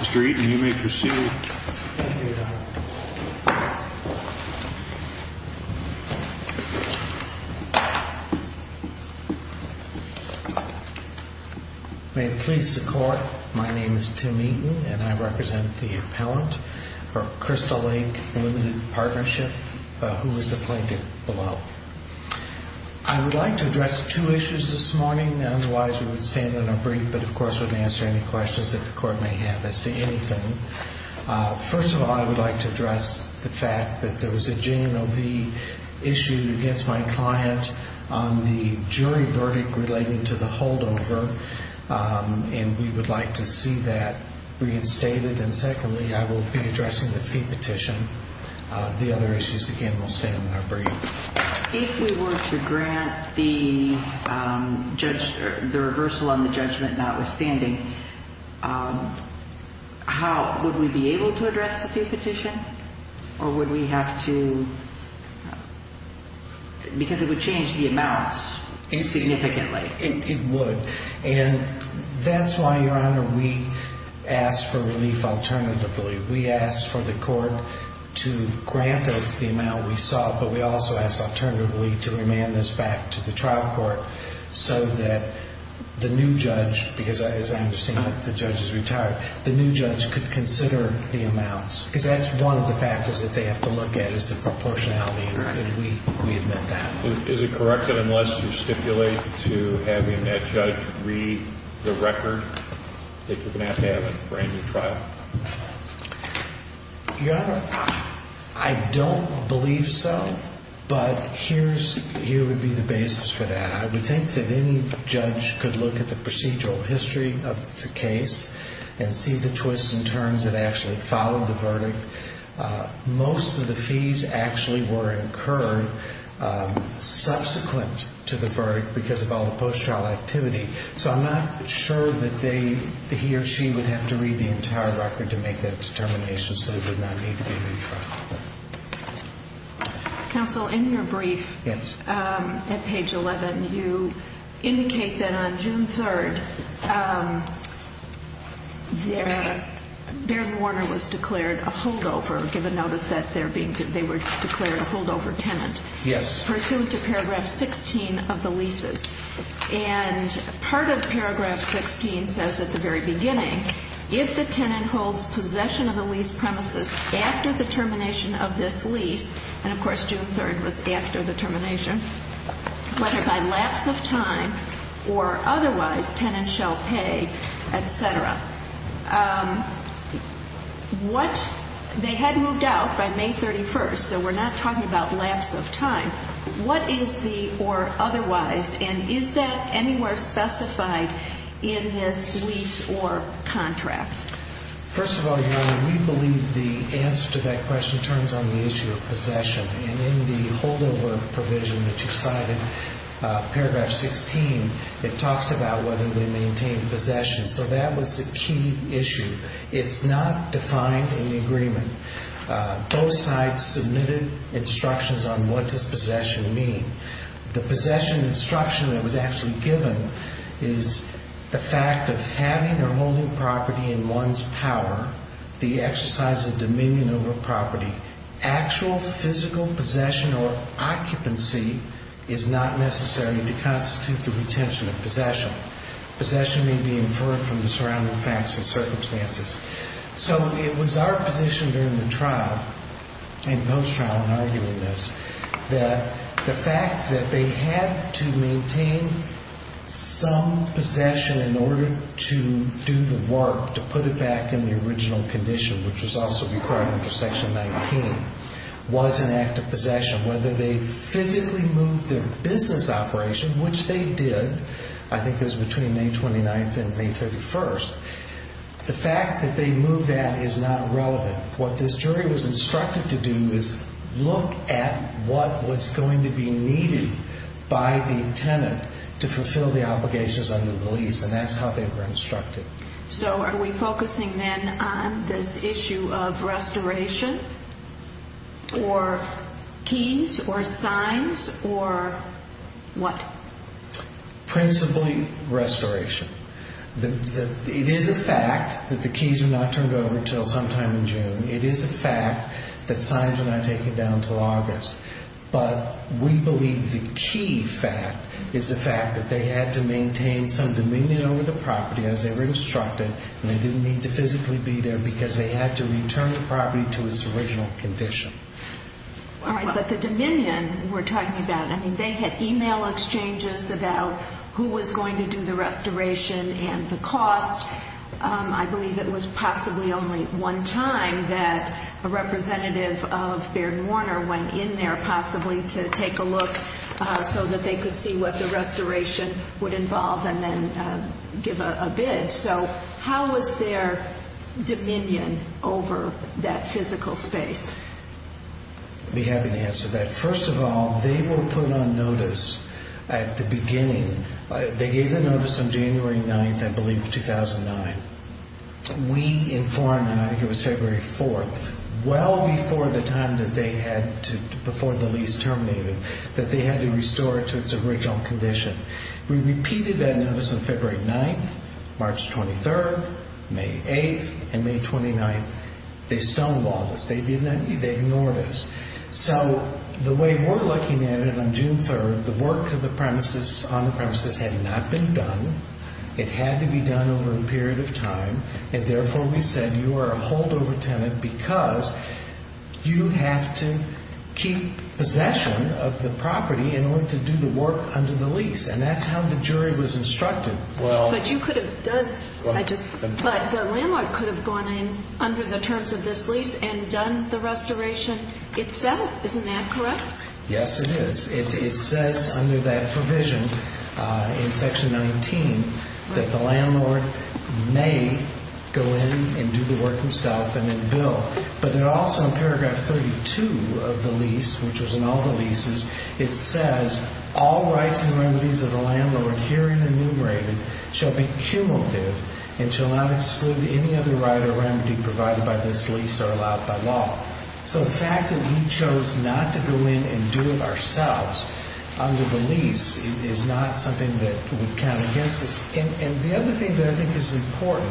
Mr. Eaton, you may proceed. May it please the Court, my name is Tim Eaton and I represent the appellant for Crystal Lake Limited Partnership who is the plaintiff below. I would like to address two issues this morning, otherwise we would stand on a brief but of course would answer any questions that the Court may have as to anything. First of all, I would like to address the fact that there was a J&OV issue against my client on the jury verdict related to the holdover and we would like to see that reinstated. And secondly, I will be addressing the fee petition. The other issues again will stand on a brief. If we were to grant the reversal on the judgment notwithstanding, would we be able to address the fee petition or would we have to, because it would change the amounts significantly. It would. And that's why, Your Honor, we asked for relief alternatively. We asked for the Court to grant us the amount we sought but we also asked alternatively to remand this back to the trial court so that the new judge, because as I understand it, the judge is retired, the new judge could consider the amounts. Because that's one of the factors that they have to look at, is the proportionality. And we admit that. Is it correct that unless you stipulate to having that judge read the But here would be the basis for that. I would think that any judge could look at the procedural history of the case and see the twists and turns that actually followed the verdict. Most of the fees actually were incurred subsequent to the verdict because of all the post-trial activity. So I'm not sure that he or she would have to read the entire record to make that determination so they would not need to be re-tried. Counsel, in your brief, at page 11, you indicate that on June 3rd, Barry Warner was declared a holdover, given notice that they were declared a holdover tenant. Yes. Pursuant to paragraph 16 of the leases. And part of paragraph 16 says at the very beginning, if the tenant holds possession of the lease premises after the termination of this lease, and of course June 3rd was after the termination, whether by lapse of time or otherwise, tenant shall pay, etc. What, they had moved out by May 31st, so we're not talking about lapse of time. What is the or otherwise? And is that anywhere specified in this lease or contract? First of all, Your Honor, we believe the answer to that question turns on the issue of possession. And in the holdover provision that you cited, paragraph 16, it talks about whether they maintain possession. So that was the key issue. It's not defined in the agreement. Both sides submitted instructions on what does possession mean. The possession instruction that was actually given is the fact of having or holding property in one's power, the exercise of dominion over property. Actual physical possession or occupancy is not necessary to constitute the retention of possession. Possession may be inferred from the surrounding facts and circumstances. So it was our position during the trial, and post-trial in arguing this, that the fact that they had to maintain some possession in order to do the work to put it back in the original condition, which was also required under Section 19, was an act of possession. Whether they physically moved their business operation, which they did, I think it was between May 29th and May 31st, the fact that they moved that is not relevant. What this jury was instructed to do is look at what was going to be needed by the tenant to fulfill the obligations under the lease, and that's how they were instructed. So are we focusing then on this issue of restoration or keys or signs or what? Principally restoration. It is a fact that the keys are not turned over until sometime in June. It is a fact that signs are not taken down until August. But we believe the key fact is the fact that they had to maintain some dominion over the property as they were instructed, and they didn't need to physically be there because they had to return the property to its original condition. But the dominion we're talking about, they had e-mail exchanges about who was going to do the restoration and the cost. I believe it was possibly only one time that a representative of Baird and Warner went in there possibly to take a look so that they could see what the restoration would involve and then give a bid. So how was their dominion over that physical space? I'd be happy to answer that. First of all, they were put on notice at the beginning. They gave the notice on January 9th, I believe, of 2009. We informed them, I think it was February 4th, well before the time that they had before the lease terminated, that they had to restore it to its original condition. We repeated that notice on February 9th, March 23rd, May 8th, and May 29th. They stonewalled us. They ignored us. So the way we're looking at it on June 3rd, the work on the premises had not been done. It had to be done over a period of time, and therefore we said, because you have to keep possession of the property in order to do the work under the lease, and that's how the jury was instructed. But the landlord could have gone in under the terms of this lease and done the restoration itself. Isn't that correct? Yes, it is. It says under that provision in Section 19 that the landlord may go in and do the work himself and then bill. But also in Paragraph 32 of the lease, which was in all the leases, it says, All rights and remedies of the landlord herein enumerated shall be cumulative and shall not exclude any other right or remedy provided by this lease or allowed by law. So the fact that he chose not to go in and do it ourselves under the lease is not something that would count against us. And the other thing that I think is important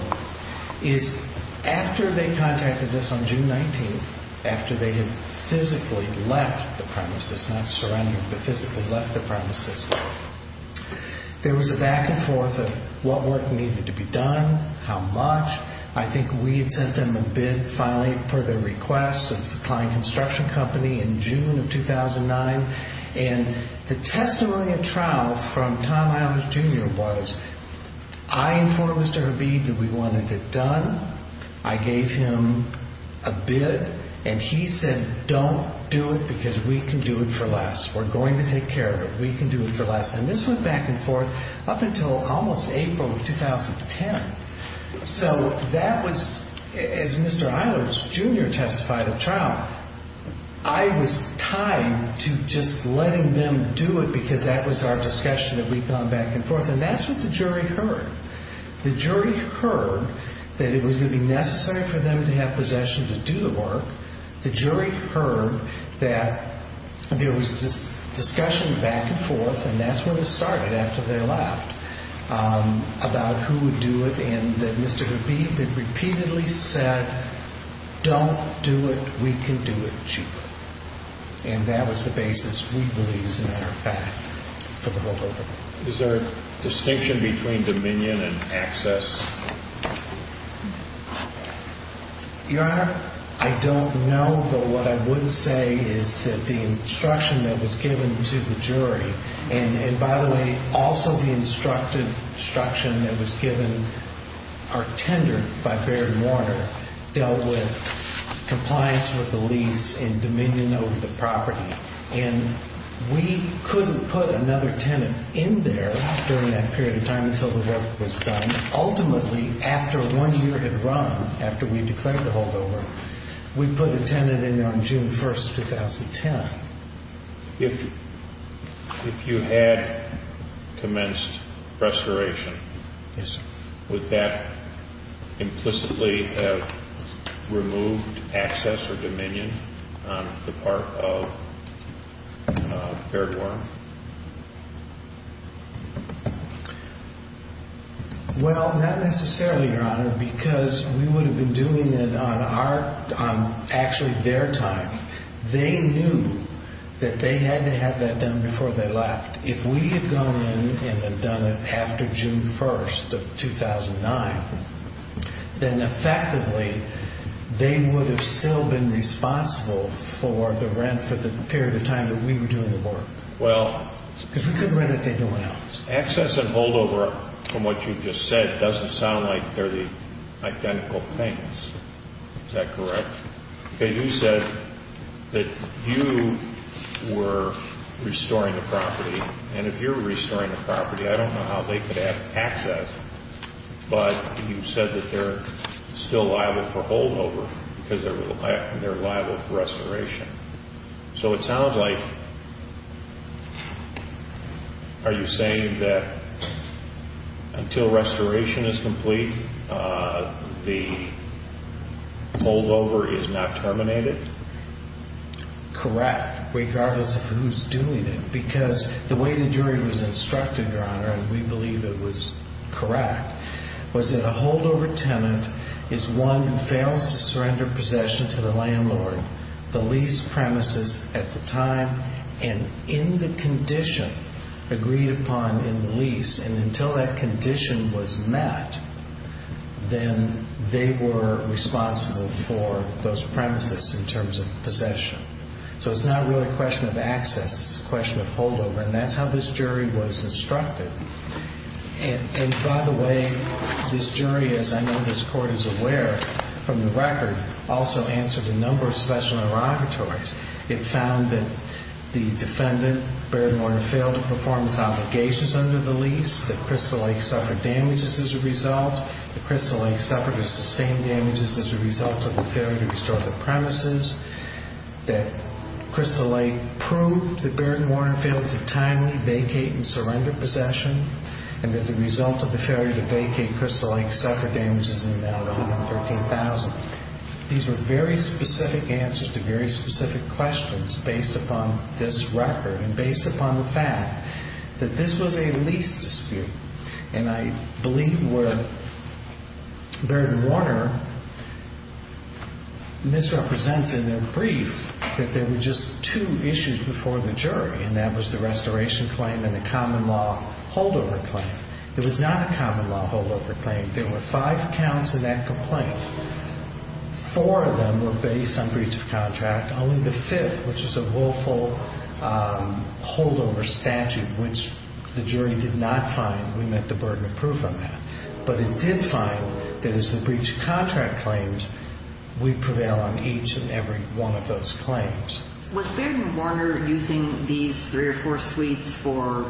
is after they contacted us on June 19th, after they had physically left the premises, not surrendered, but physically left the premises, there was a back and forth of what work needed to be done, how much. I think we had sent them a bid finally per their request of the Klein Construction Company in June of 2009, and the testimony at trial from Tom Iles, Jr. was, I informed Mr. Herbie that we wanted it done. I gave him a bid, and he said, Don't do it because we can do it for less. We're going to take care of it. We can do it for less. And this went back and forth up until almost April of 2010. So that was, as Mr. Iles, Jr. testified at trial, I was tied to just letting them do it because that was our discussion that we'd gone back and forth. And that's what the jury heard. The jury heard that it was going to be necessary for them to have possession to do the work. The jury heard that there was this discussion back and forth, and that's when it started after they left, about who would do it, and that Mr. Herbie had repeatedly said, Don't do it. We can do it cheaper. And that was the basis, we believe, as a matter of fact, for the holdover. Is there a distinction between dominion and access? Your Honor, I don't know. But what I would say is that the instruction that was given to the jury, and, by the way, also the instruction that was given, our tender by Barry Warner, dealt with compliance with the lease and dominion over the property. And we couldn't put another tenant in there during that period of time until the work was done. Ultimately, after one year had run, after we declared the holdover, we put a tenant in there on June 1st, 2010. If you had commenced restoration, would that implicitly have removed access or dominion on the part of Barry Warner? Well, not necessarily, Your Honor, because we would have been doing it on actually their time. They knew that they had to have that done before they left. If we had gone in and had done it after June 1st of 2009, then effectively they would have still been responsible for the rent for the period of time that we were doing the work. Because we couldn't rent it to anyone else. Access and holdover, from what you just said, doesn't sound like they're the identical things. Is that correct? Okay, you said that you were restoring the property. And if you're restoring the property, I don't know how they could have access. But you said that they're still liable for holdover because they're liable for restoration. So it sounds like, are you saying that until restoration is complete, the holdover is not terminated? Correct, regardless of who's doing it. Because the way the jury was instructed, Your Honor, and we believe it was correct, was that a holdover tenant is one who fails to surrender possession to the landlord, the lease premises at the time, and in the condition agreed upon in the lease. And until that condition was met, then they were responsible for those premises in terms of possession. So it's not really a question of access. It's a question of holdover. And that's how this jury was instructed. And, by the way, this jury, as I know this Court is aware from the record, also answered a number of special interrogatories. It found that the defendant, Baird and Warner, failed to perform its obligations under the lease, that Crystal Lake suffered damages as a result, that Crystal Lake suffered or sustained damages as a result of the failure to restore the premises, that Crystal Lake proved that Baird and Warner failed to timely vacate and surrender possession, and that the result of the failure to vacate Crystal Lake suffered damages in the amount of $113,000. These were very specific answers to very specific questions based upon this record and based upon the fact that this was a lease dispute. And I believe what Baird and Warner misrepresents in their brief, that there were just two issues before the jury, and that was the restoration claim and the common law holdover claim. It was not a common law holdover claim. There were five counts of that complaint. Four of them were based on breach of contract. Only the fifth, which is a willful holdover statute, which the jury did not find, we met the burden of proof on that. But it did find that as the breach of contract claims, we prevail on each and every one of those claims. Was Baird and Warner using these three or four suites for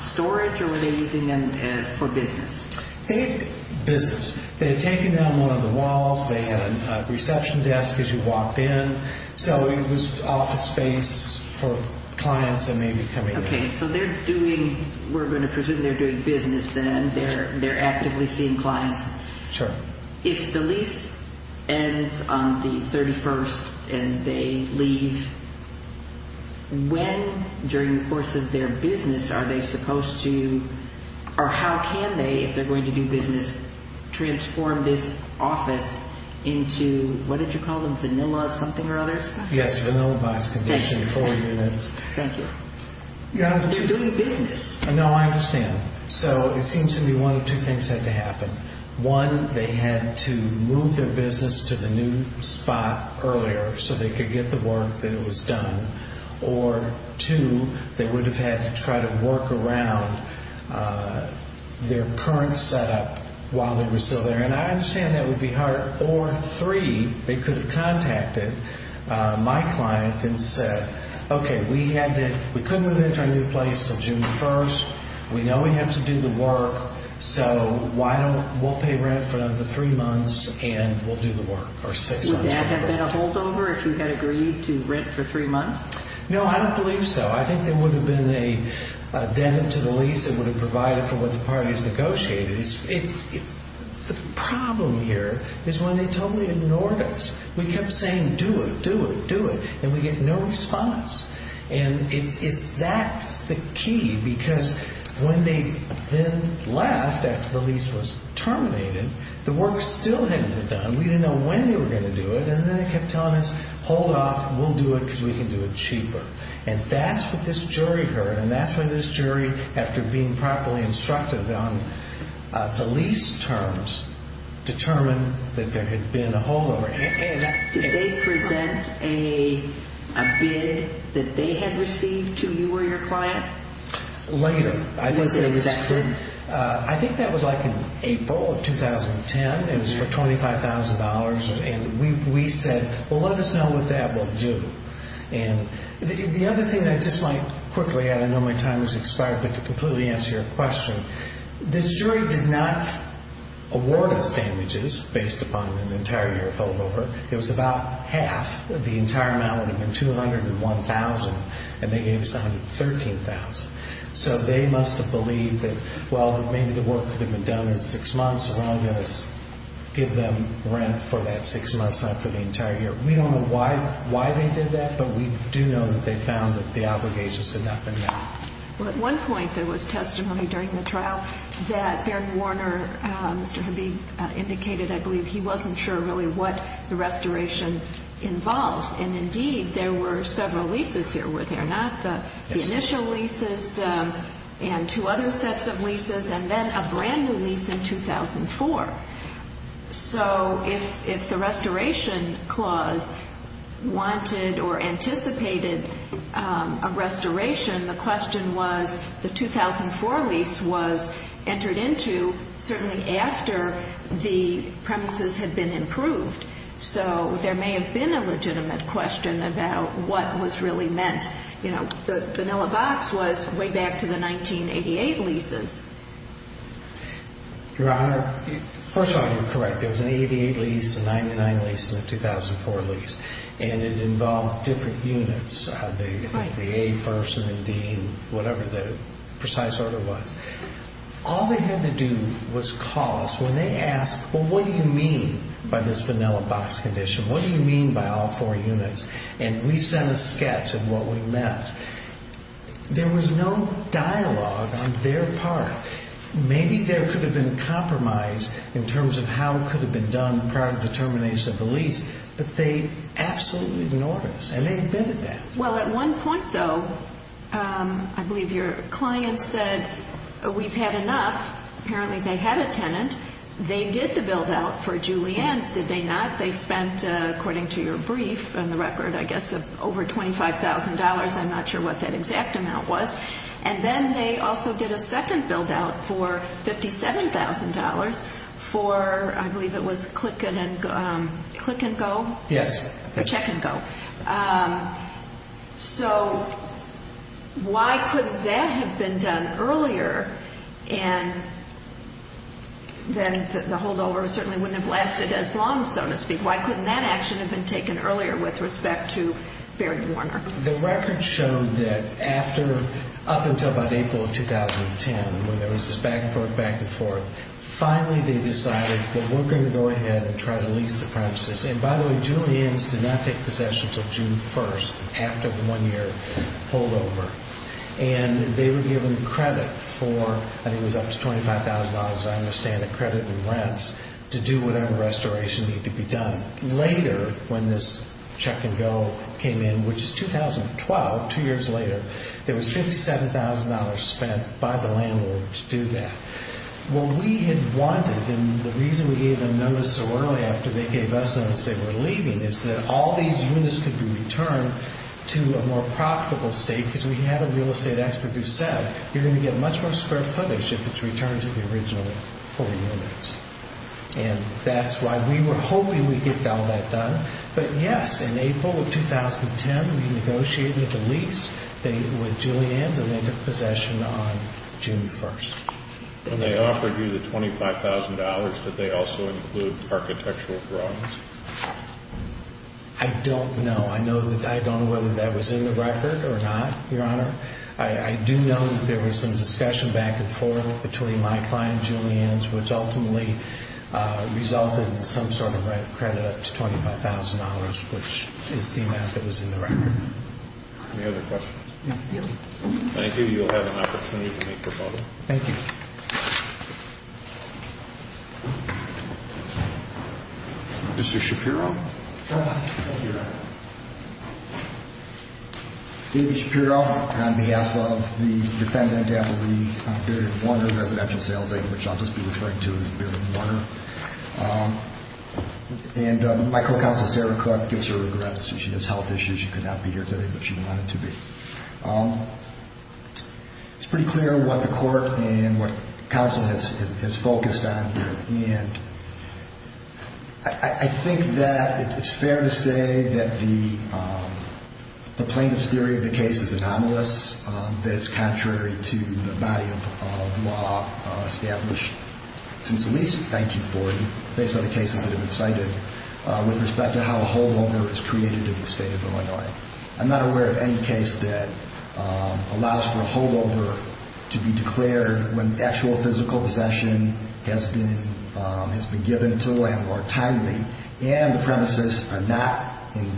storage or were they using them for business? They had business. They had taken down one of the walls. They had a reception desk as you walked in. So it was office space for clients that may be coming in. Okay, so they're doing—we're going to presume they're doing business then. They're actively seeing clients. Sure. If the lease ends on the 31st and they leave, when during the course of their business are they supposed to— or how can they, if they're going to do business, transform this office into— what did you call them, vanilla something or others? Yes, vanilla box condition for units. Thank you. They're doing business. No, I understand. So it seems to me one of two things had to happen. One, they had to move their business to the new spot earlier so they could get the work that was done. Or two, they would have had to try to work around their current setup while they were still there. And I understand that would be hard. Or three, they could have contacted my client and said, okay, we couldn't move into our new place until June 1st. We know we have to do the work, so we'll pay rent for another three months and we'll do the work, or six months. Would that have been a holdover if you had agreed to rent for three months? No, I don't believe so. I think there would have been a dent to the lease that would have provided for what the parties negotiated. The problem here is when they totally ignored us. We kept saying do it, do it, do it, and we get no response. And that's the key because when they then left after the lease was terminated, the work still hadn't been done. We didn't know when they were going to do it. And then they kept telling us, hold off. We'll do it because we can do it cheaper. And that's what this jury heard. And that's why this jury, after being properly instructed on the lease terms, determined that there had been a holdover. Did they present a bid that they had received to you or your client? Later. I think that was like in April of 2010. It was for $25,000. And we said, well, let us know what that will do. And the other thing I just might quickly add, I know my time has expired, but to completely answer your question, this jury did not award us damages based upon an entire year of holdover. It was about half. The entire amount would have been $201,000, and they gave us $113,000. So they must have believed that, well, maybe the work could have been done in six months as long as we give them rent for that six months, not for the entire year. We don't know why they did that, but we do know that they found that the obligations had not been met. Well, at one point there was testimony during the trial that Bernard Warner, Mr. Habib, indicated I believe he wasn't sure really what the restoration involved. And indeed, there were several leases here, were there not? The initial leases and two other sets of leases, and then a brand-new lease in 2004. So if the restoration clause wanted or anticipated a restoration, the question was the 2004 lease was entered into certainly after the premises had been improved. So there may have been a legitimate question about what was really meant. The vanilla box was way back to the 1988 leases. Your Honor, first of all, you're correct. There was an 88 lease, a 99 lease, and a 2004 lease. And it involved different units, the A first and the D, whatever the precise order was. All they had to do was call us when they asked, well, what do you mean by this vanilla box condition? What do you mean by all four units? And we sent a sketch of what we meant. There was no dialogue on their part. Maybe there could have been compromise in terms of how it could have been done prior to the termination of the lease, but they absolutely ignored us, and they admitted that. Well, at one point, though, I believe your client said we've had enough. Apparently they had a tenant. They did the build-out for Julienne's, did they not? They spent, according to your brief and the record, I guess over $25,000. I'm not sure what that exact amount was. And then they also did a second build-out for $57,000 for, I believe it was Click and Go? Yes. For Check and Go. So why couldn't that have been done earlier? And then the holdover certainly wouldn't have lasted as long, so to speak. Why couldn't that action have been taken earlier with respect to Baird and Warner? The record showed that after, up until about April of 2010, when there was this back and forth, back and forth, finally they decided that we're going to go ahead and try to lease the premises. And, by the way, Julienne's did not take possession until June 1st after the one-year holdover. And they were given credit for, I think it was up to $25,000, as I understand it, credit and rents to do whatever restoration needed to be done. Later, when this Check and Go came in, which is 2012, two years later, there was $57,000 spent by the landlord to do that. What we had wanted, and the reason we gave them notice so early, after they gave us notice they were leaving, is that all these units could be returned to a more profitable state, because we had a real estate expert who said, you're going to get much more square footage if it's returned to the original four units. And that's why we were hoping we'd get all that done. But, yes, in April of 2010, we negotiated the lease with Julienne's, and they took possession on June 1st. When they offered you the $25,000, did they also include architectural drawings? I don't know. I don't know whether that was in the record or not, Your Honor. I do know that there was some discussion back and forth between my client and Julienne's, which ultimately resulted in some sort of credit up to $25,000, which is the amount that was in the record. Any other questions? No, Your Honor. Thank you. You'll have an opportunity to make your vote. Thank you. Mr. Shapiro? Thank you, Your Honor. David Shapiro, on behalf of the defendant, Avery Barron Warner, residential sales agent, which I'll just be referring to as Barron Warner. And my co-counsel, Sarah Cook, gives her regrets. She has health issues. She could not be here today, but she wanted to be. It's pretty clear what the court and what counsel has focused on, and I think that it's fair to say that the plaintiff's theory of the case is anomalous, that it's contrary to the body of law established since at least 1940, based on the cases that have been cited, with respect to how a holdover is created in the state of Illinois. I'm not aware of any case that allows for a holdover to be declared when actual physical possession has been given to the landlord timely and the premises are not in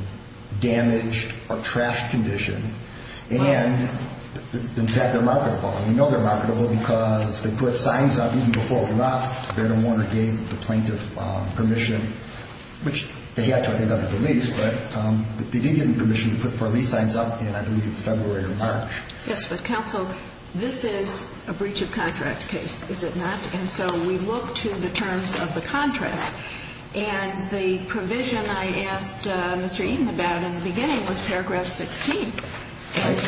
damaged or trashed condition, and, in fact, they're marketable. And we know they're marketable because they put signs up even before we left, Barron Warner gave the plaintiff permission, which they had to, I think, under police, but they did give him permission to put police signs up in, I believe, February or March. Yes, but, counsel, this is a breach of contract case, is it not? And so we look to the terms of the contract, and the provision I asked Mr. Eaton about in the beginning was paragraph 16.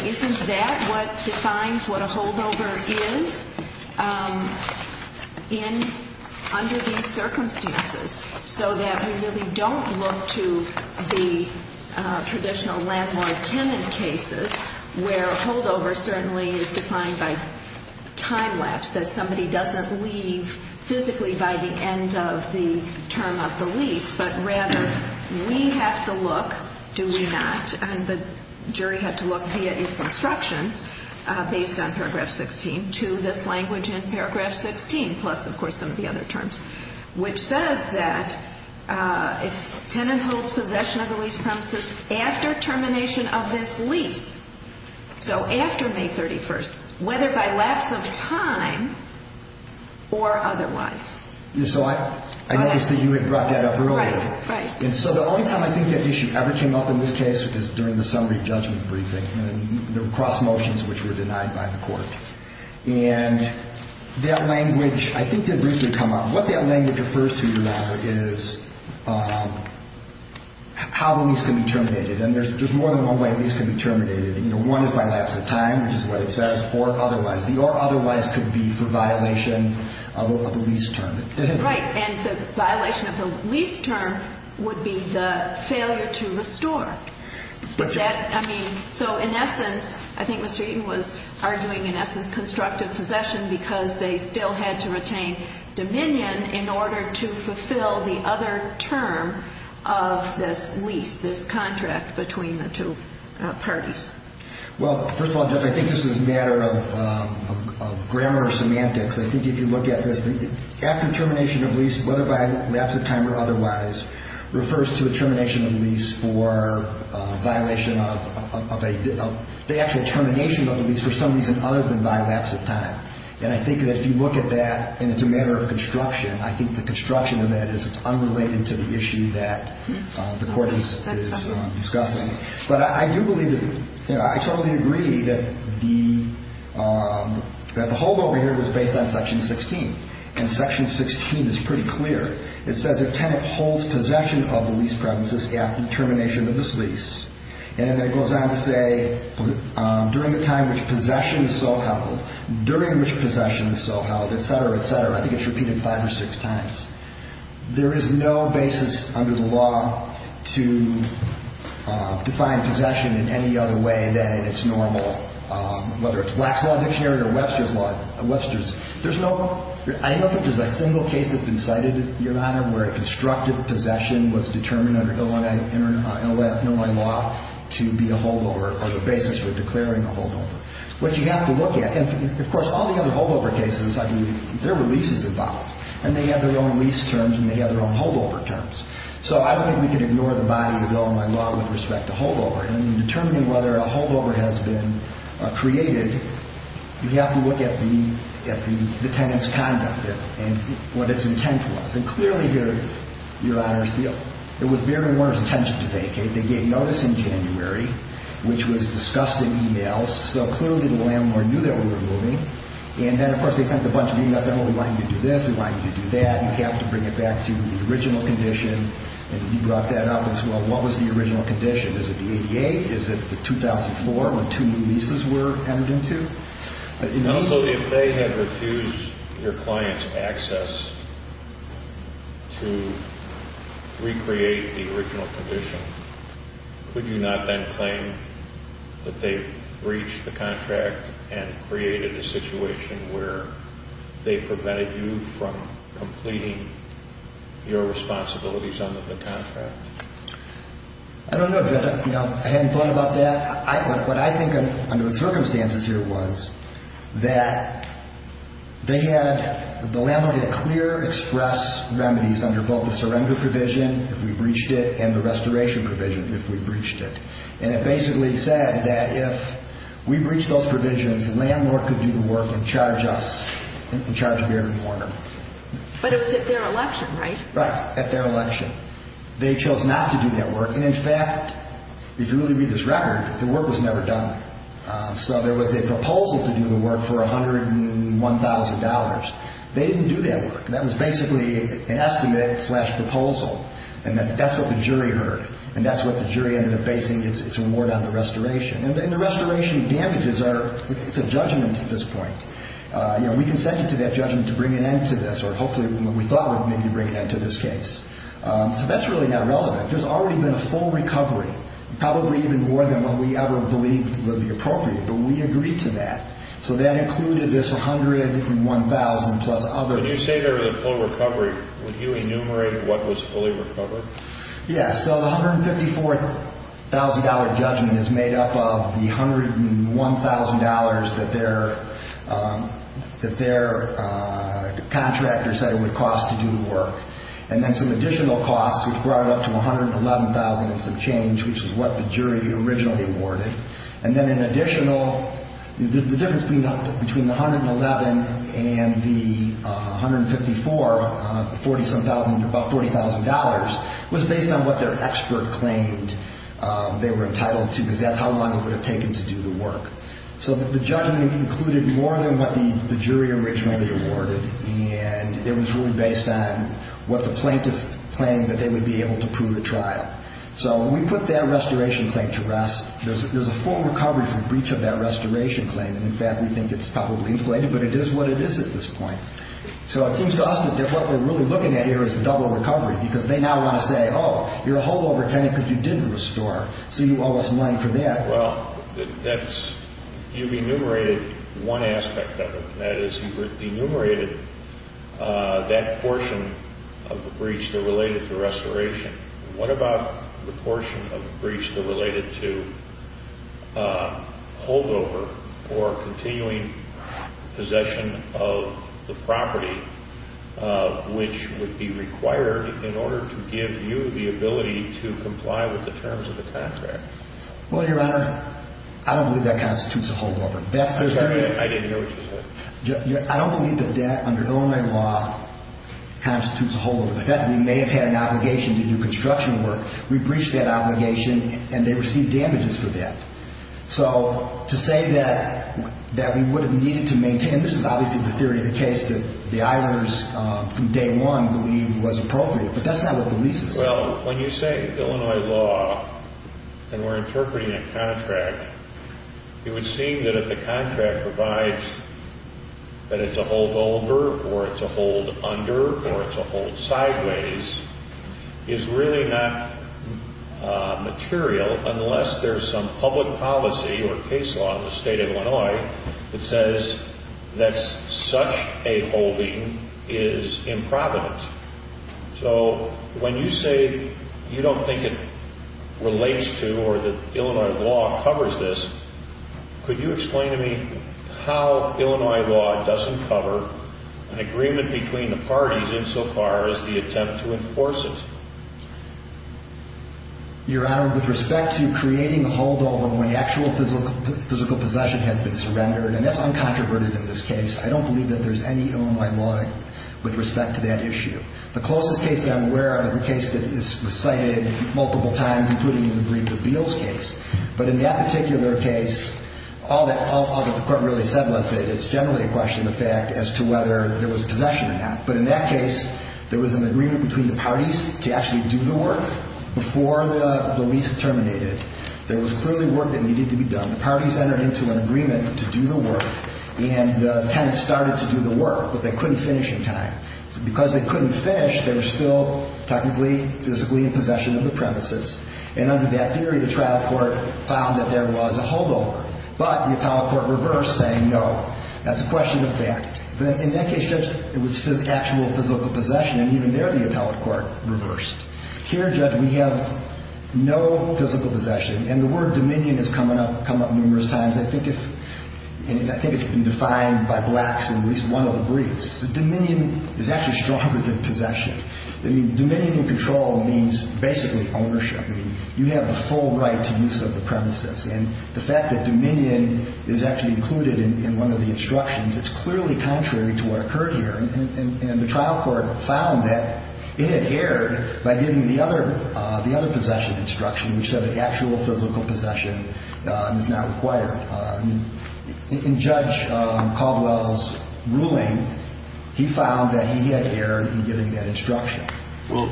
Isn't that what defines what a holdover is under these circumstances, so that we really don't look to the traditional landlord-tenant cases where a holdover certainly is defined by time lapse, that somebody doesn't leave physically by the end of the term of the lease, but rather we have to look, do we not, and the jury had to look via its instructions based on paragraph 16 to this language in paragraph 16 plus, of course, some of the other terms, which says that if tenant holds possession of the lease premises after termination of this lease, so after May 31st, whether by lapse of time or otherwise. So I noticed that you had brought that up earlier. Right, right. And so the only time I think that issue ever came up in this case was during the summary judgment briefing, and there were cross motions which were denied by the court. And that language, I think, did briefly come up. What that language refers to, Your Honor, is how a lease can be terminated, and there's more than one way a lease can be terminated. One is by lapse of time, which is what it says, or otherwise. Otherwise could be for violation of a lease term. Right. And the violation of the lease term would be the failure to restore. I mean, so in essence, I think Mr. Eaton was arguing, in essence, constructive possession because they still had to retain dominion in order to fulfill the other term of this lease, this contract between the two parties. Well, first of all, Judge, I think this is a matter of grammar or semantics. I think if you look at this, after termination of lease, whether by lapse of time or otherwise, refers to the termination of the lease for violation of a – the actual termination of the lease for some reason other than by lapse of time. And I think that if you look at that and it's a matter of construction, I think the construction of that is unrelated to the issue that the Court is discussing. But I do believe that – I totally agree that the holdover here was based on Section 16. And Section 16 is pretty clear. It says a tenant holds possession of the lease premises after termination of this lease. And then it goes on to say during the time which possession is so held, during which possession is so held, et cetera, et cetera. I think it's repeated five or six times. There is no basis under the law to define possession in any other way than its normal – whether it's Black's Law Dictionary or Webster's Law – Webster's. There's no – I don't think there's a single case that's been cited, Your Honor, where a constructive possession was determined under Illinois law to be a holdover or the basis for declaring a holdover. What you have to look at – and, of course, all the other holdover cases, I believe there were leases involved, and they have their own lease terms and they have their own holdover terms. So I don't think we can ignore the body of the law in my law with respect to holdover. And in determining whether a holdover has been created, you have to look at the tenant's conduct and what its intent was. And clearly here, Your Honor, it was Mary Warner's intention to vacate. They gave notice in January, which was discussed in e-mails. So clearly the landlord knew that we were moving. And then, of course, they sent a bunch of e-mails saying, well, we want you to do this, we want you to do that. You have to bring it back to the original condition. And you brought that up as well. What was the original condition? Is it the ADA? Is it the 2004 when two new leases were entered into? And also, if they had refused your client's access to recreate the original condition, could you not then claim that they breached the contract and created a situation where they prevented you from completing your responsibilities under the contract? I don't know, Judge. I hadn't thought about that. What I think under the circumstances here was that they had the landlord had clear express remedies under both the surrender provision, if we breached it, and the restoration provision, if we breached it. And it basically said that if we breached those provisions, the landlord could do the work and charge us, and charge Beard and Warner. But it was at their election, right? Right, at their election. They chose not to do that work. And, in fact, if you really read this record, the work was never done. So there was a proposal to do the work for $101,000. They didn't do that work. That was basically an estimate-slash-proposal. And that's what the jury heard. And that's what the jury ended up basing its award on, the restoration. And the restoration damages are a judgment at this point. We consented to that judgment to bring an end to this, or hopefully what we thought would maybe bring an end to this case. So that's really not relevant. There's already been a full recovery, probably even more than what we ever believed would be appropriate. But we agreed to that. So that included this $101,000 plus other work. When you say there was a full recovery, would you enumerate what was fully recovered? Yes. So the $154,000 judgment is made up of the $101,000 that their contractor said it would cost to do the work, and then some additional costs, which brought it up to $111,000 and some change, which is what the jury originally awarded. And then in additional, the difference between the $111,000 and the $154,000, about $40,000, was based on what their expert claimed they were entitled to, because that's how long it would have taken to do the work. So the judgment included more than what the jury originally awarded, and it was really based on what the plaintiff claimed that they would be able to prove at trial. So we put that restoration claim to rest. There's a full recovery for breach of that restoration claim. In fact, we think it's probably inflated, but it is what it is at this point. So it seems to us that what we're really looking at here is a double recovery, because they now want to say, oh, you're a whole other tenant because you didn't restore, so you owe us money for that. Well, you've enumerated one aspect of it. That is, you've enumerated that portion of the breach that related to restoration. What about the portion of the breach that related to holdover or continuing possession of the property, which would be required in order to give you the ability to comply with the terms of the contract? Well, Your Honor, I don't believe that constitutes a holdover. I'm sorry, I didn't hear what you said. I don't believe that debt under Illinois law constitutes a holdover. We may have had an obligation to do construction work. We breached that obligation, and they received damages for that. So to say that we would have needed to maintain, this is obviously the theory of the case that the eithers from day one believe was appropriate, but that's not what the leases say. Well, when you say Illinois law and we're interpreting a contract, it would seem that if the contract provides that it's a holdover or it's a hold under or it's a hold sideways is really not material unless there's some public policy or case law in the state of Illinois that says that such a holding is improvident. So when you say you don't think it relates to or that Illinois law covers this, could you explain to me how Illinois law doesn't cover an agreement between the parties insofar as the attempt to enforce it? Your Honor, with respect to creating a holdover when actual physical possession has been surrendered, and that's uncontroverted in this case, I don't believe that there's any Illinois law with respect to that issue. The closest case that I'm aware of is a case that was cited multiple times, but in that particular case, all that the court really said was that it's generally a question of fact as to whether there was possession or not. But in that case, there was an agreement between the parties to actually do the work before the lease terminated. There was clearly work that needed to be done. The parties entered into an agreement to do the work, and the tenants started to do the work, but they couldn't finish in time. So because they couldn't finish, they were still technically, physically in possession of the premises, and under that theory, the trial court found that there was a holdover. But the appellate court reversed, saying no, that's a question of fact. But in that case, Judge, it was actual physical possession, and even there, the appellate court reversed. Here, Judge, we have no physical possession, and the word dominion has come up numerous times. I think it's been defined by blacks in at least one of the briefs. Dominion is actually stronger than possession. I mean, dominion and control means basically ownership. I mean, you have the full right to use of the premises, and the fact that dominion is actually included in one of the instructions, it's clearly contrary to what occurred here. And the trial court found that it adhered by giving the other possession instruction, which said that actual physical possession is not required. In Judge Caldwell's ruling, he found that he adhered in giving that instruction. Well,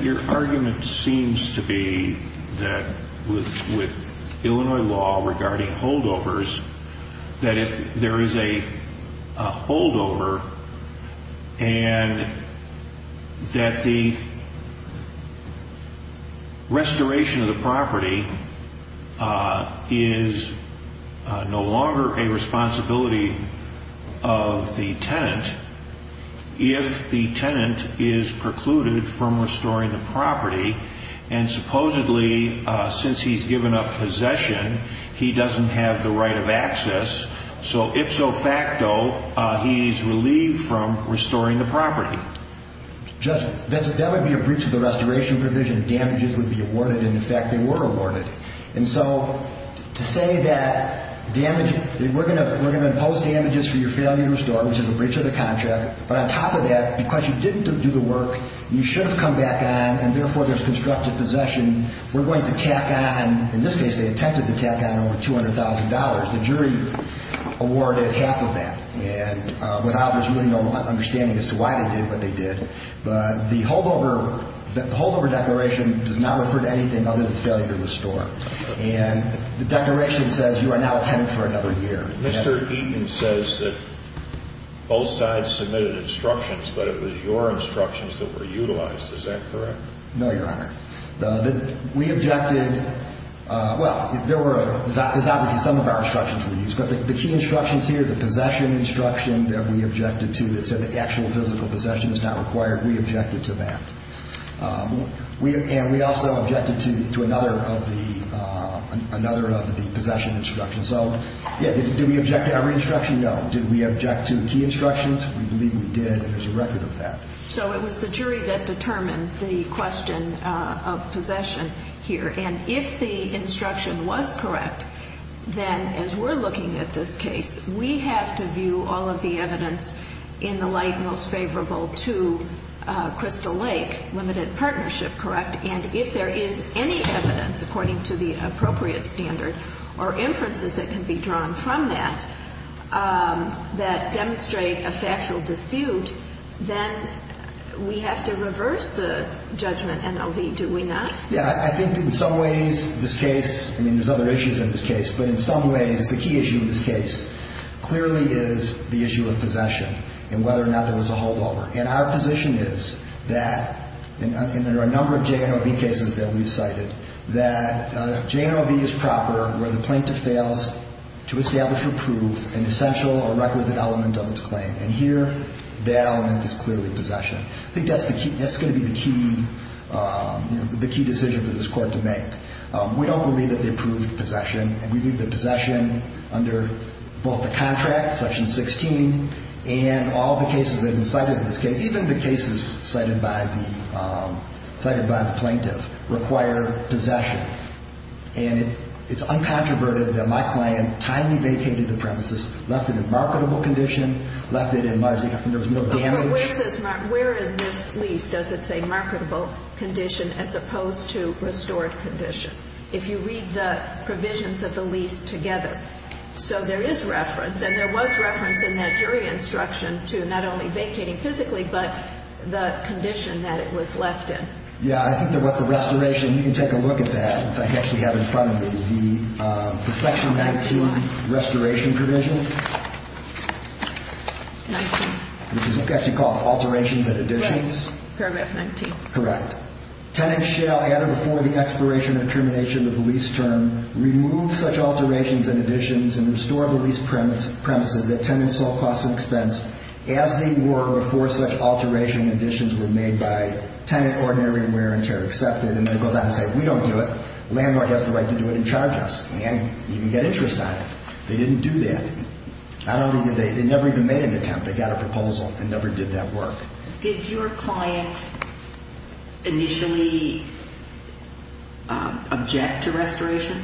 your argument seems to be that with Illinois law regarding holdovers, that if there is a holdover and that the restoration of the property is no longer a responsibility of the tenant, if the tenant is precluded from restoring the property, and supposedly since he's given up possession, he doesn't have the right of access, so ipso facto, he's relieved from restoring the property. Judge, that would be a breach of the restoration provision. Damages would be awarded, and in fact, they were awarded. And so to say that we're going to impose damages for your failure to restore, which is a breach of the contract, but on top of that, because you didn't do the work, you should have come back on, and therefore there's constructive possession, we're going to tack on, in this case, they attempted to tack on over $200,000. The jury awarded half of that, and without there's really no understanding as to why they did what they did. But the holdover declaration does not refer to anything other than failure to restore. And the declaration says you are now a tenant for another year. Mr. Eaton says that both sides submitted instructions, but it was your instructions that were utilized. Is that correct? No, Your Honor. We objected, well, there were, as is obvious, some of our instructions were used, but the key instructions here, the possession instruction that we objected to, that said the actual physical possession is not required, we objected to that. And we also objected to another of the possession instructions. So, yeah, did we object to every instruction? No. Did we object to key instructions? We believe we did, and there's a record of that. So it was the jury that determined the question of possession here. And if the instruction was correct, then as we're looking at this case, we have to view all of the evidence in the light most favorable to Crystal Lake Limited Partnership, correct? And if there is any evidence, according to the appropriate standard, or inferences that can be drawn from that that demonstrate a factual dispute, then we have to reverse the judgment, NLV, do we not? Yeah. I think in some ways this case, I mean, there's other issues in this case, but in some ways the key issue in this case clearly is the issue of possession and whether or not there was a holdover. And our position is that, and there are a number of JNLB cases that we've cited, that JNLB is proper where the plaintiff fails to establish or prove an essential or record that element of its claim. And here that element is clearly possession. I think that's going to be the key decision for this Court to make. We don't believe that they proved possession, and we believe that possession under both the contract, Section 16, and all the cases that have been cited in this case, even the cases cited by the plaintiff, require possession. And it's uncontroverted that my client timely vacated the premises, left it in marketable condition, left it in largely, there was no damage. But where is this lease? Does it say marketable condition as opposed to restored condition? If you read the provisions of the lease together. So there is reference, and there was reference in that jury instruction to not only vacating physically, but the condition that it was left in. Yeah, I think that what the restoration, you can take a look at that, if I actually have it in front of me, the Section 19 restoration provision. 19. Which is actually called alterations and additions. Right. Paragraph 19. Correct. Tenants shall, either before the expiration or termination of the lease term, remove such alterations and additions and restore the lease premises at tenant's sole cost and expense as they were before such alteration and additions were made by tenant ordinary wear and tear accepted. And then it goes on to say, we don't do it. Landlord has the right to do it and charge us. And you can get interest on it. They didn't do that. I don't think they, they never even made an attempt. They got a proposal and never did that work. Did your client initially object to restoration?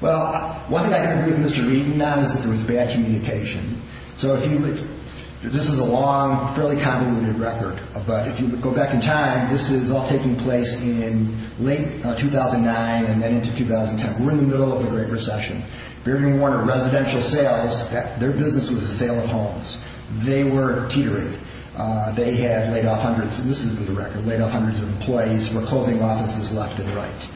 Well, one thing I can agree with Mr. Reden on is that there was bad communication. So if you, this is a long, fairly convoluted record, but if you go back in time, this is all taking place in late 2009 and then into 2010. We're in the middle of the Great Recession. Bergen Warner Residential Sales, their business was a sale of homes. They were teetering. They had laid off hundreds, and this is the record, laid off hundreds of employees who were closing offices left and right.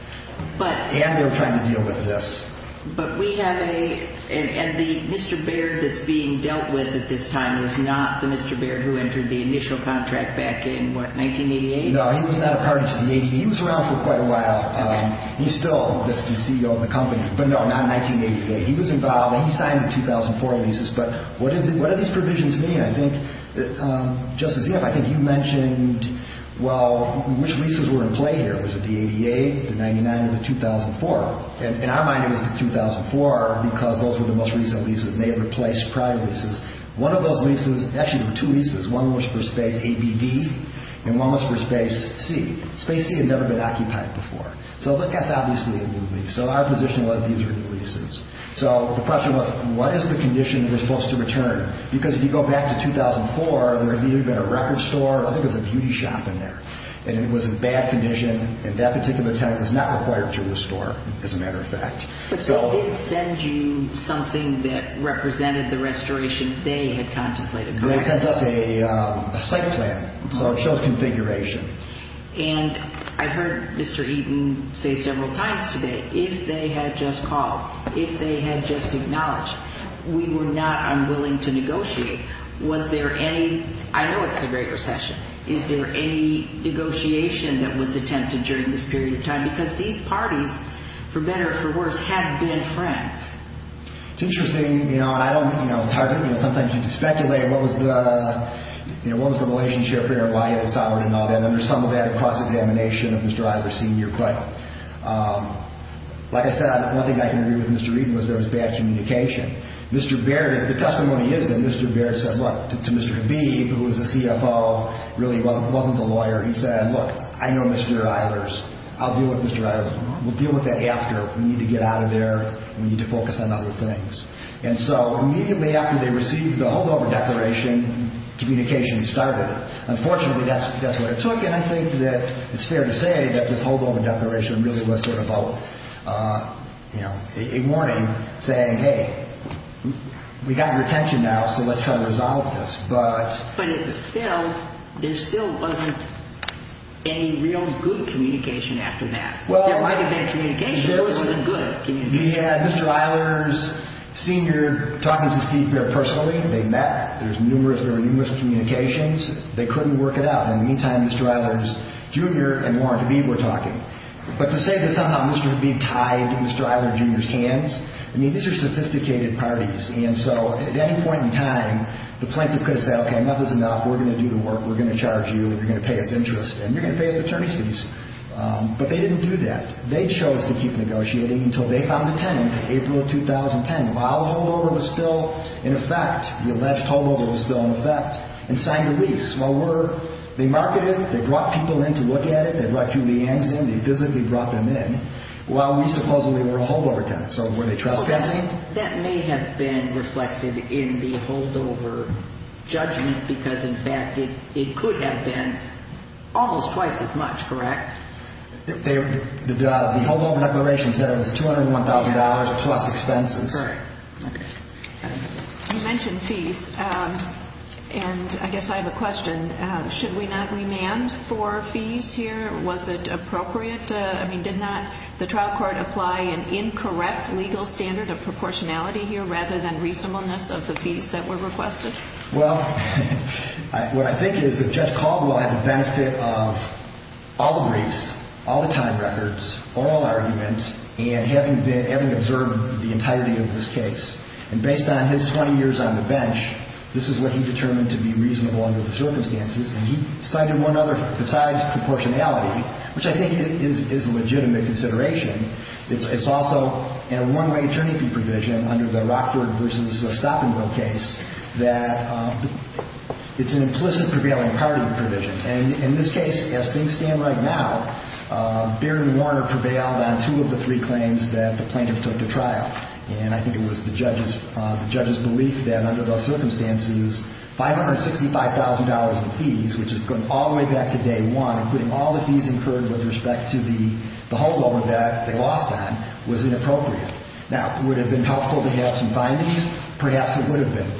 And they were trying to deal with this. But we have a, and the Mr. Baird that's being dealt with at this time is not the Mr. Baird who entered the initial contract back in, what, 1988? No, he was not a party to the 80s. He was around for quite a while. He's still the CEO of the company. But no, not 1988. He was involved. He signed the 2004 leases. But what do these provisions mean? I think, Justice Eoff, I think you mentioned, well, which leases were in play here? Was it the 88, the 99, or the 2004? In our mind, it was the 2004 because those were the most recent leases, and they had replaced prior leases. One of those leases, actually there were two leases. One was for Space A, B, D, and one was for Space C. Space C had never been occupied before. So that's obviously a new lease. So our position was these are new leases. So the question was, what is the condition they're supposed to return? Because if you go back to 2004, there had neither been a record store, I think it was a beauty shop in there, and it was in bad condition, and that particular tenant was not required to restore, as a matter of fact. But they did send you something that represented the restoration they had contemplated. They sent us a site plan. So it shows configuration. And I heard Mr. Eaton say several times today, if they had just called, if they had just acknowledged, we were not unwilling to negotiate. Was there any, I know it's the Great Recession, is there any negotiation that was attempted during this period of time? Because these parties, for better or for worse, had been friends. It's interesting, you know, and I don't, you know, it's hard to, you know, sometimes you can speculate, what was the, you know, what was the relationship between Ryan and Sauer and all that. And there's some of that across examination of Mr. Eilers' senior credit. Like I said, one thing I can agree with Mr. Eaton was there was bad communication. Mr. Baird, the testimony is that Mr. Baird said, look, to Mr. Habib, who was a CFO, really wasn't a lawyer, he said, look, I know Mr. Eilers. I'll deal with Mr. Eilers. We'll deal with that after. We need to get out of there. We need to focus on other things. And so immediately after they received the holdover declaration, communication started. Unfortunately, that's what it took, and I think that it's fair to say that this holdover declaration really was sort of a, you know, a warning, saying, hey, we got your attention now, so let's try to resolve this. But it still, there still wasn't any real good communication after that. There might have been communication, but it wasn't good communication. We had Mr. Eilers' senior talking to Steve Baird personally. They met. There was numerous communications. They couldn't work it out. In the meantime, Mr. Eilers Jr. and Warren Habib were talking. But to say that somehow Mr. Habib tied Mr. Eilers Jr.'s hands, I mean, these are sophisticated parties, and so at any point in time, the plaintiff could have said, okay, enough is enough. We're going to do the work. We're going to charge you. You're going to pay us interest, and you're going to pay us the attorney's fees. But they didn't do that. They chose to keep negotiating until they found a tenant in April of 2010. While holdover was still in effect, the alleged holdover was still in effect, and signed a lease. They marketed it. They brought people in to look at it. They brought Julie Yangs in. They physically brought them in while we supposedly were a holdover tenant. So were they trespassing? That may have been reflected in the holdover judgment because, in fact, it could have been almost twice as much, correct? The holdover declaration said it was $201,000 plus expenses. Okay. You mentioned fees, and I guess I have a question. Should we not remand for fees here? Was it appropriate? I mean, did not the trial court apply an incorrect legal standard of proportionality here rather than reasonableness of the fees that were requested? Well, what I think is that Judge Caldwell had the benefit of all the briefs, all the time records, all arguments, and having observed the entirety of this case. And based on his 20 years on the bench, this is what he determined to be reasonable under the circumstances. And he cited one other besides proportionality, which I think is a legitimate consideration. It's also a one-way attorney fee provision under the Rockford v. Stop-and-Go case that it's an implicit prevailing priority provision. And in this case, as things stand right now, Barry Warner prevailed on two of the three claims that the plaintiff took to trial. And I think it was the judge's belief that under those circumstances, $565,000 in fees, which is going all the way back to day one, including all the fees incurred with respect to the holdover that they lost on, was inappropriate. Now, would it have been helpful to have some findings? Perhaps it would have been.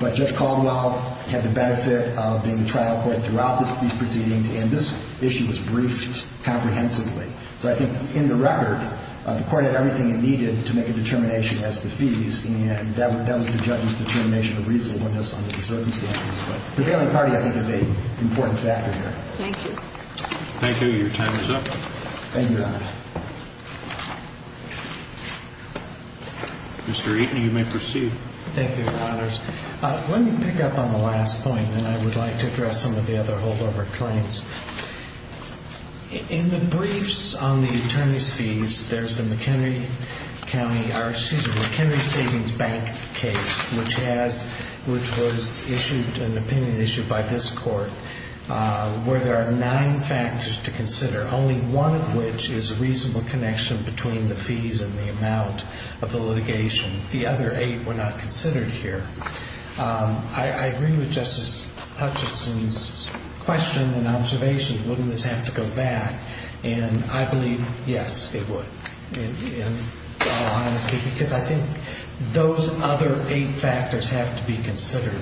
But Judge Caldwell had the benefit of being the trial court throughout these proceedings, and this issue was briefed comprehensively. So I think in the record, the Court had everything it needed to make a determination as to fees, and that was the judge's determination of reasonableness under the circumstances. But prevailing priority, I think, is an important factor here. Thank you. Thank you. Your time is up. Thank you, Your Honor. Mr. Eaton, you may proceed. Thank you, Your Honors. Let me pick up on the last point, and I would like to address some of the other holdover claims. In the briefs on the attorney's fees, there's the McHenry Savings Bank case, which was issued, an opinion issued by this Court, where there are nine factors to consider, only one of which is a reasonable connection between the fees and the amount of the litigation. The other eight were not considered here. I agree with Justice Hutchinson's question and observations. Wouldn't this have to go back? And I believe, yes, it would, in all honesty, because I think those other eight factors have to be considered.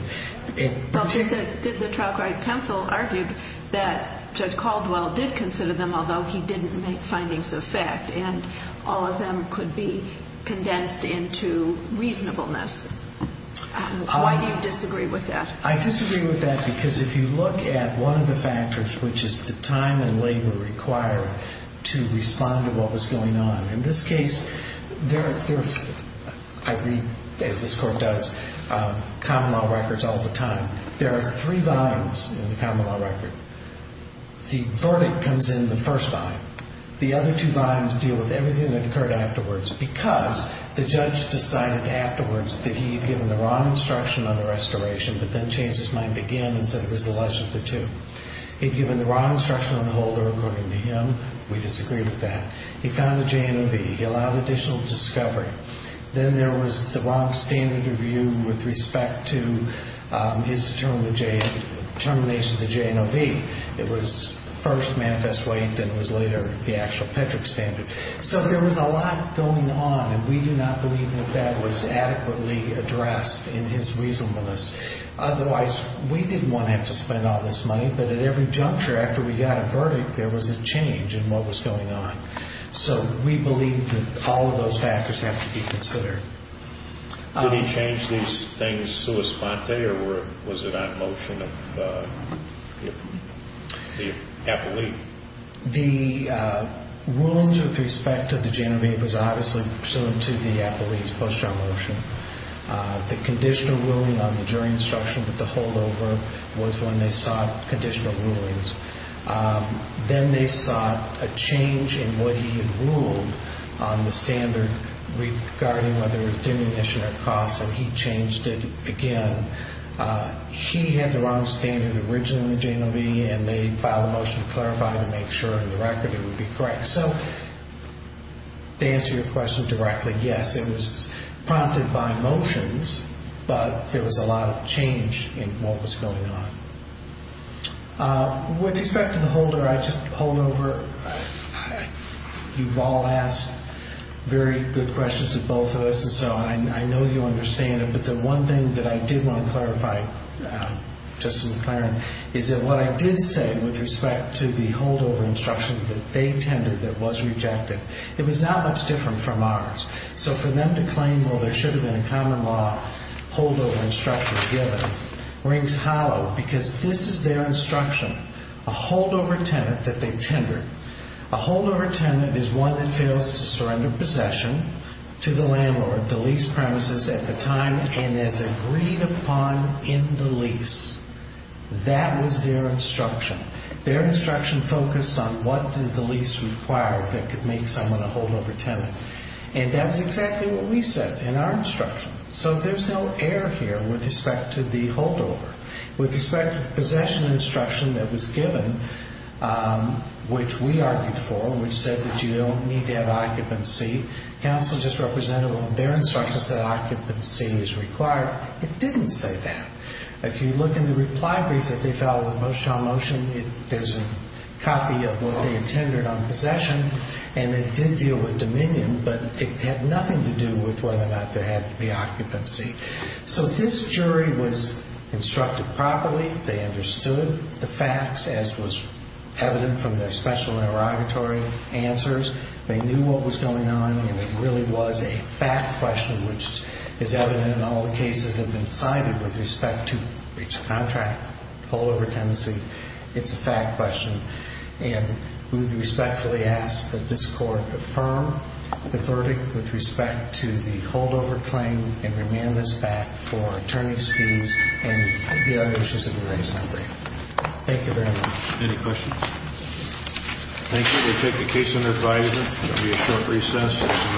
Did the trial court counsel argue that Judge Caldwell did consider them, Why do you disagree with that? I disagree with that because if you look at one of the factors, which is the time and labor required to respond to what was going on, in this case, I read, as this Court does, common law records all the time. There are three volumes in the common law record. The verdict comes in the first volume. The other two volumes deal with everything that occurred afterwards because the judge decided afterwards that he had given the wrong instruction on the restoration, but then changed his mind again and said it was the less of the two. He had given the wrong instruction on the holder, according to him. We disagree with that. He found the J&OV. He allowed additional discovery. Then there was the wrong standard of view with respect to his determination of the J&OV. It was first manifest weight, then it was later the actual PEDRC standard. So there was a lot going on, and we do not believe that that was adequately addressed in his reasonableness. Otherwise, we didn't want to have to spend all this money, but at every juncture after we got a verdict, there was a change in what was going on. So we believe that all of those factors have to be considered. Did he change these things sua sponte, or was it on motion of the appellee? The rulings with respect to the J&OV was obviously pursuant to the appellee's post-trial motion. The conditional ruling on the jury instruction with the holdover was when they sought conditional rulings. Then they sought a change in what he had ruled on the standard regarding whether it was diminution or cost, and he changed it again. He had the wrong standard originally in the J&OV, and they filed a motion to clarify to make sure in the record it would be correct. So to answer your question directly, yes, it was prompted by motions, but there was a lot of change in what was going on. With respect to the holder, I just pulled over. You've all asked very good questions to both of us, and so I know you understand it, but the one thing that I did want to clarify, just to be clear, is that what I did say with respect to the holdover instruction that they tendered that was rejected, it was not much different from ours. So for them to claim, well, there should have been a common law holdover instruction given rings hollow because this is their instruction, a holdover tenant that they tendered. A holdover tenant is one that fails to surrender possession to the landlord. The lease premises at the time, and as agreed upon in the lease, that was their instruction. Their instruction focused on what did the lease require that could make someone a holdover tenant, and that was exactly what we said in our instruction. So there's no error here with respect to the holdover. With respect to the possession instruction that was given, which we argued for, which said that you don't need to have occupancy, counsel just represented on their instructions that occupancy is required. It didn't say that. If you look in the reply brief that they filed with Moshe on motion, there's a copy of what they intended on possession, and it did deal with dominion, but it had nothing to do with whether or not there had to be occupancy. So this jury was instructed properly. They understood the facts, as was evident from their special interrogatory answers. They knew what was going on, and it really was a fact question, which is evident in all the cases that have been cited with respect to breach of contract, holdover tenancy. It's a fact question, and we respectfully ask that this Court affirm the verdict with respect to the holdover claim and remand this back for attorney's fees and the other issues of the case. Thank you very much. Any questions? Thank you. We'll take the case under advisory. There will be a short recess.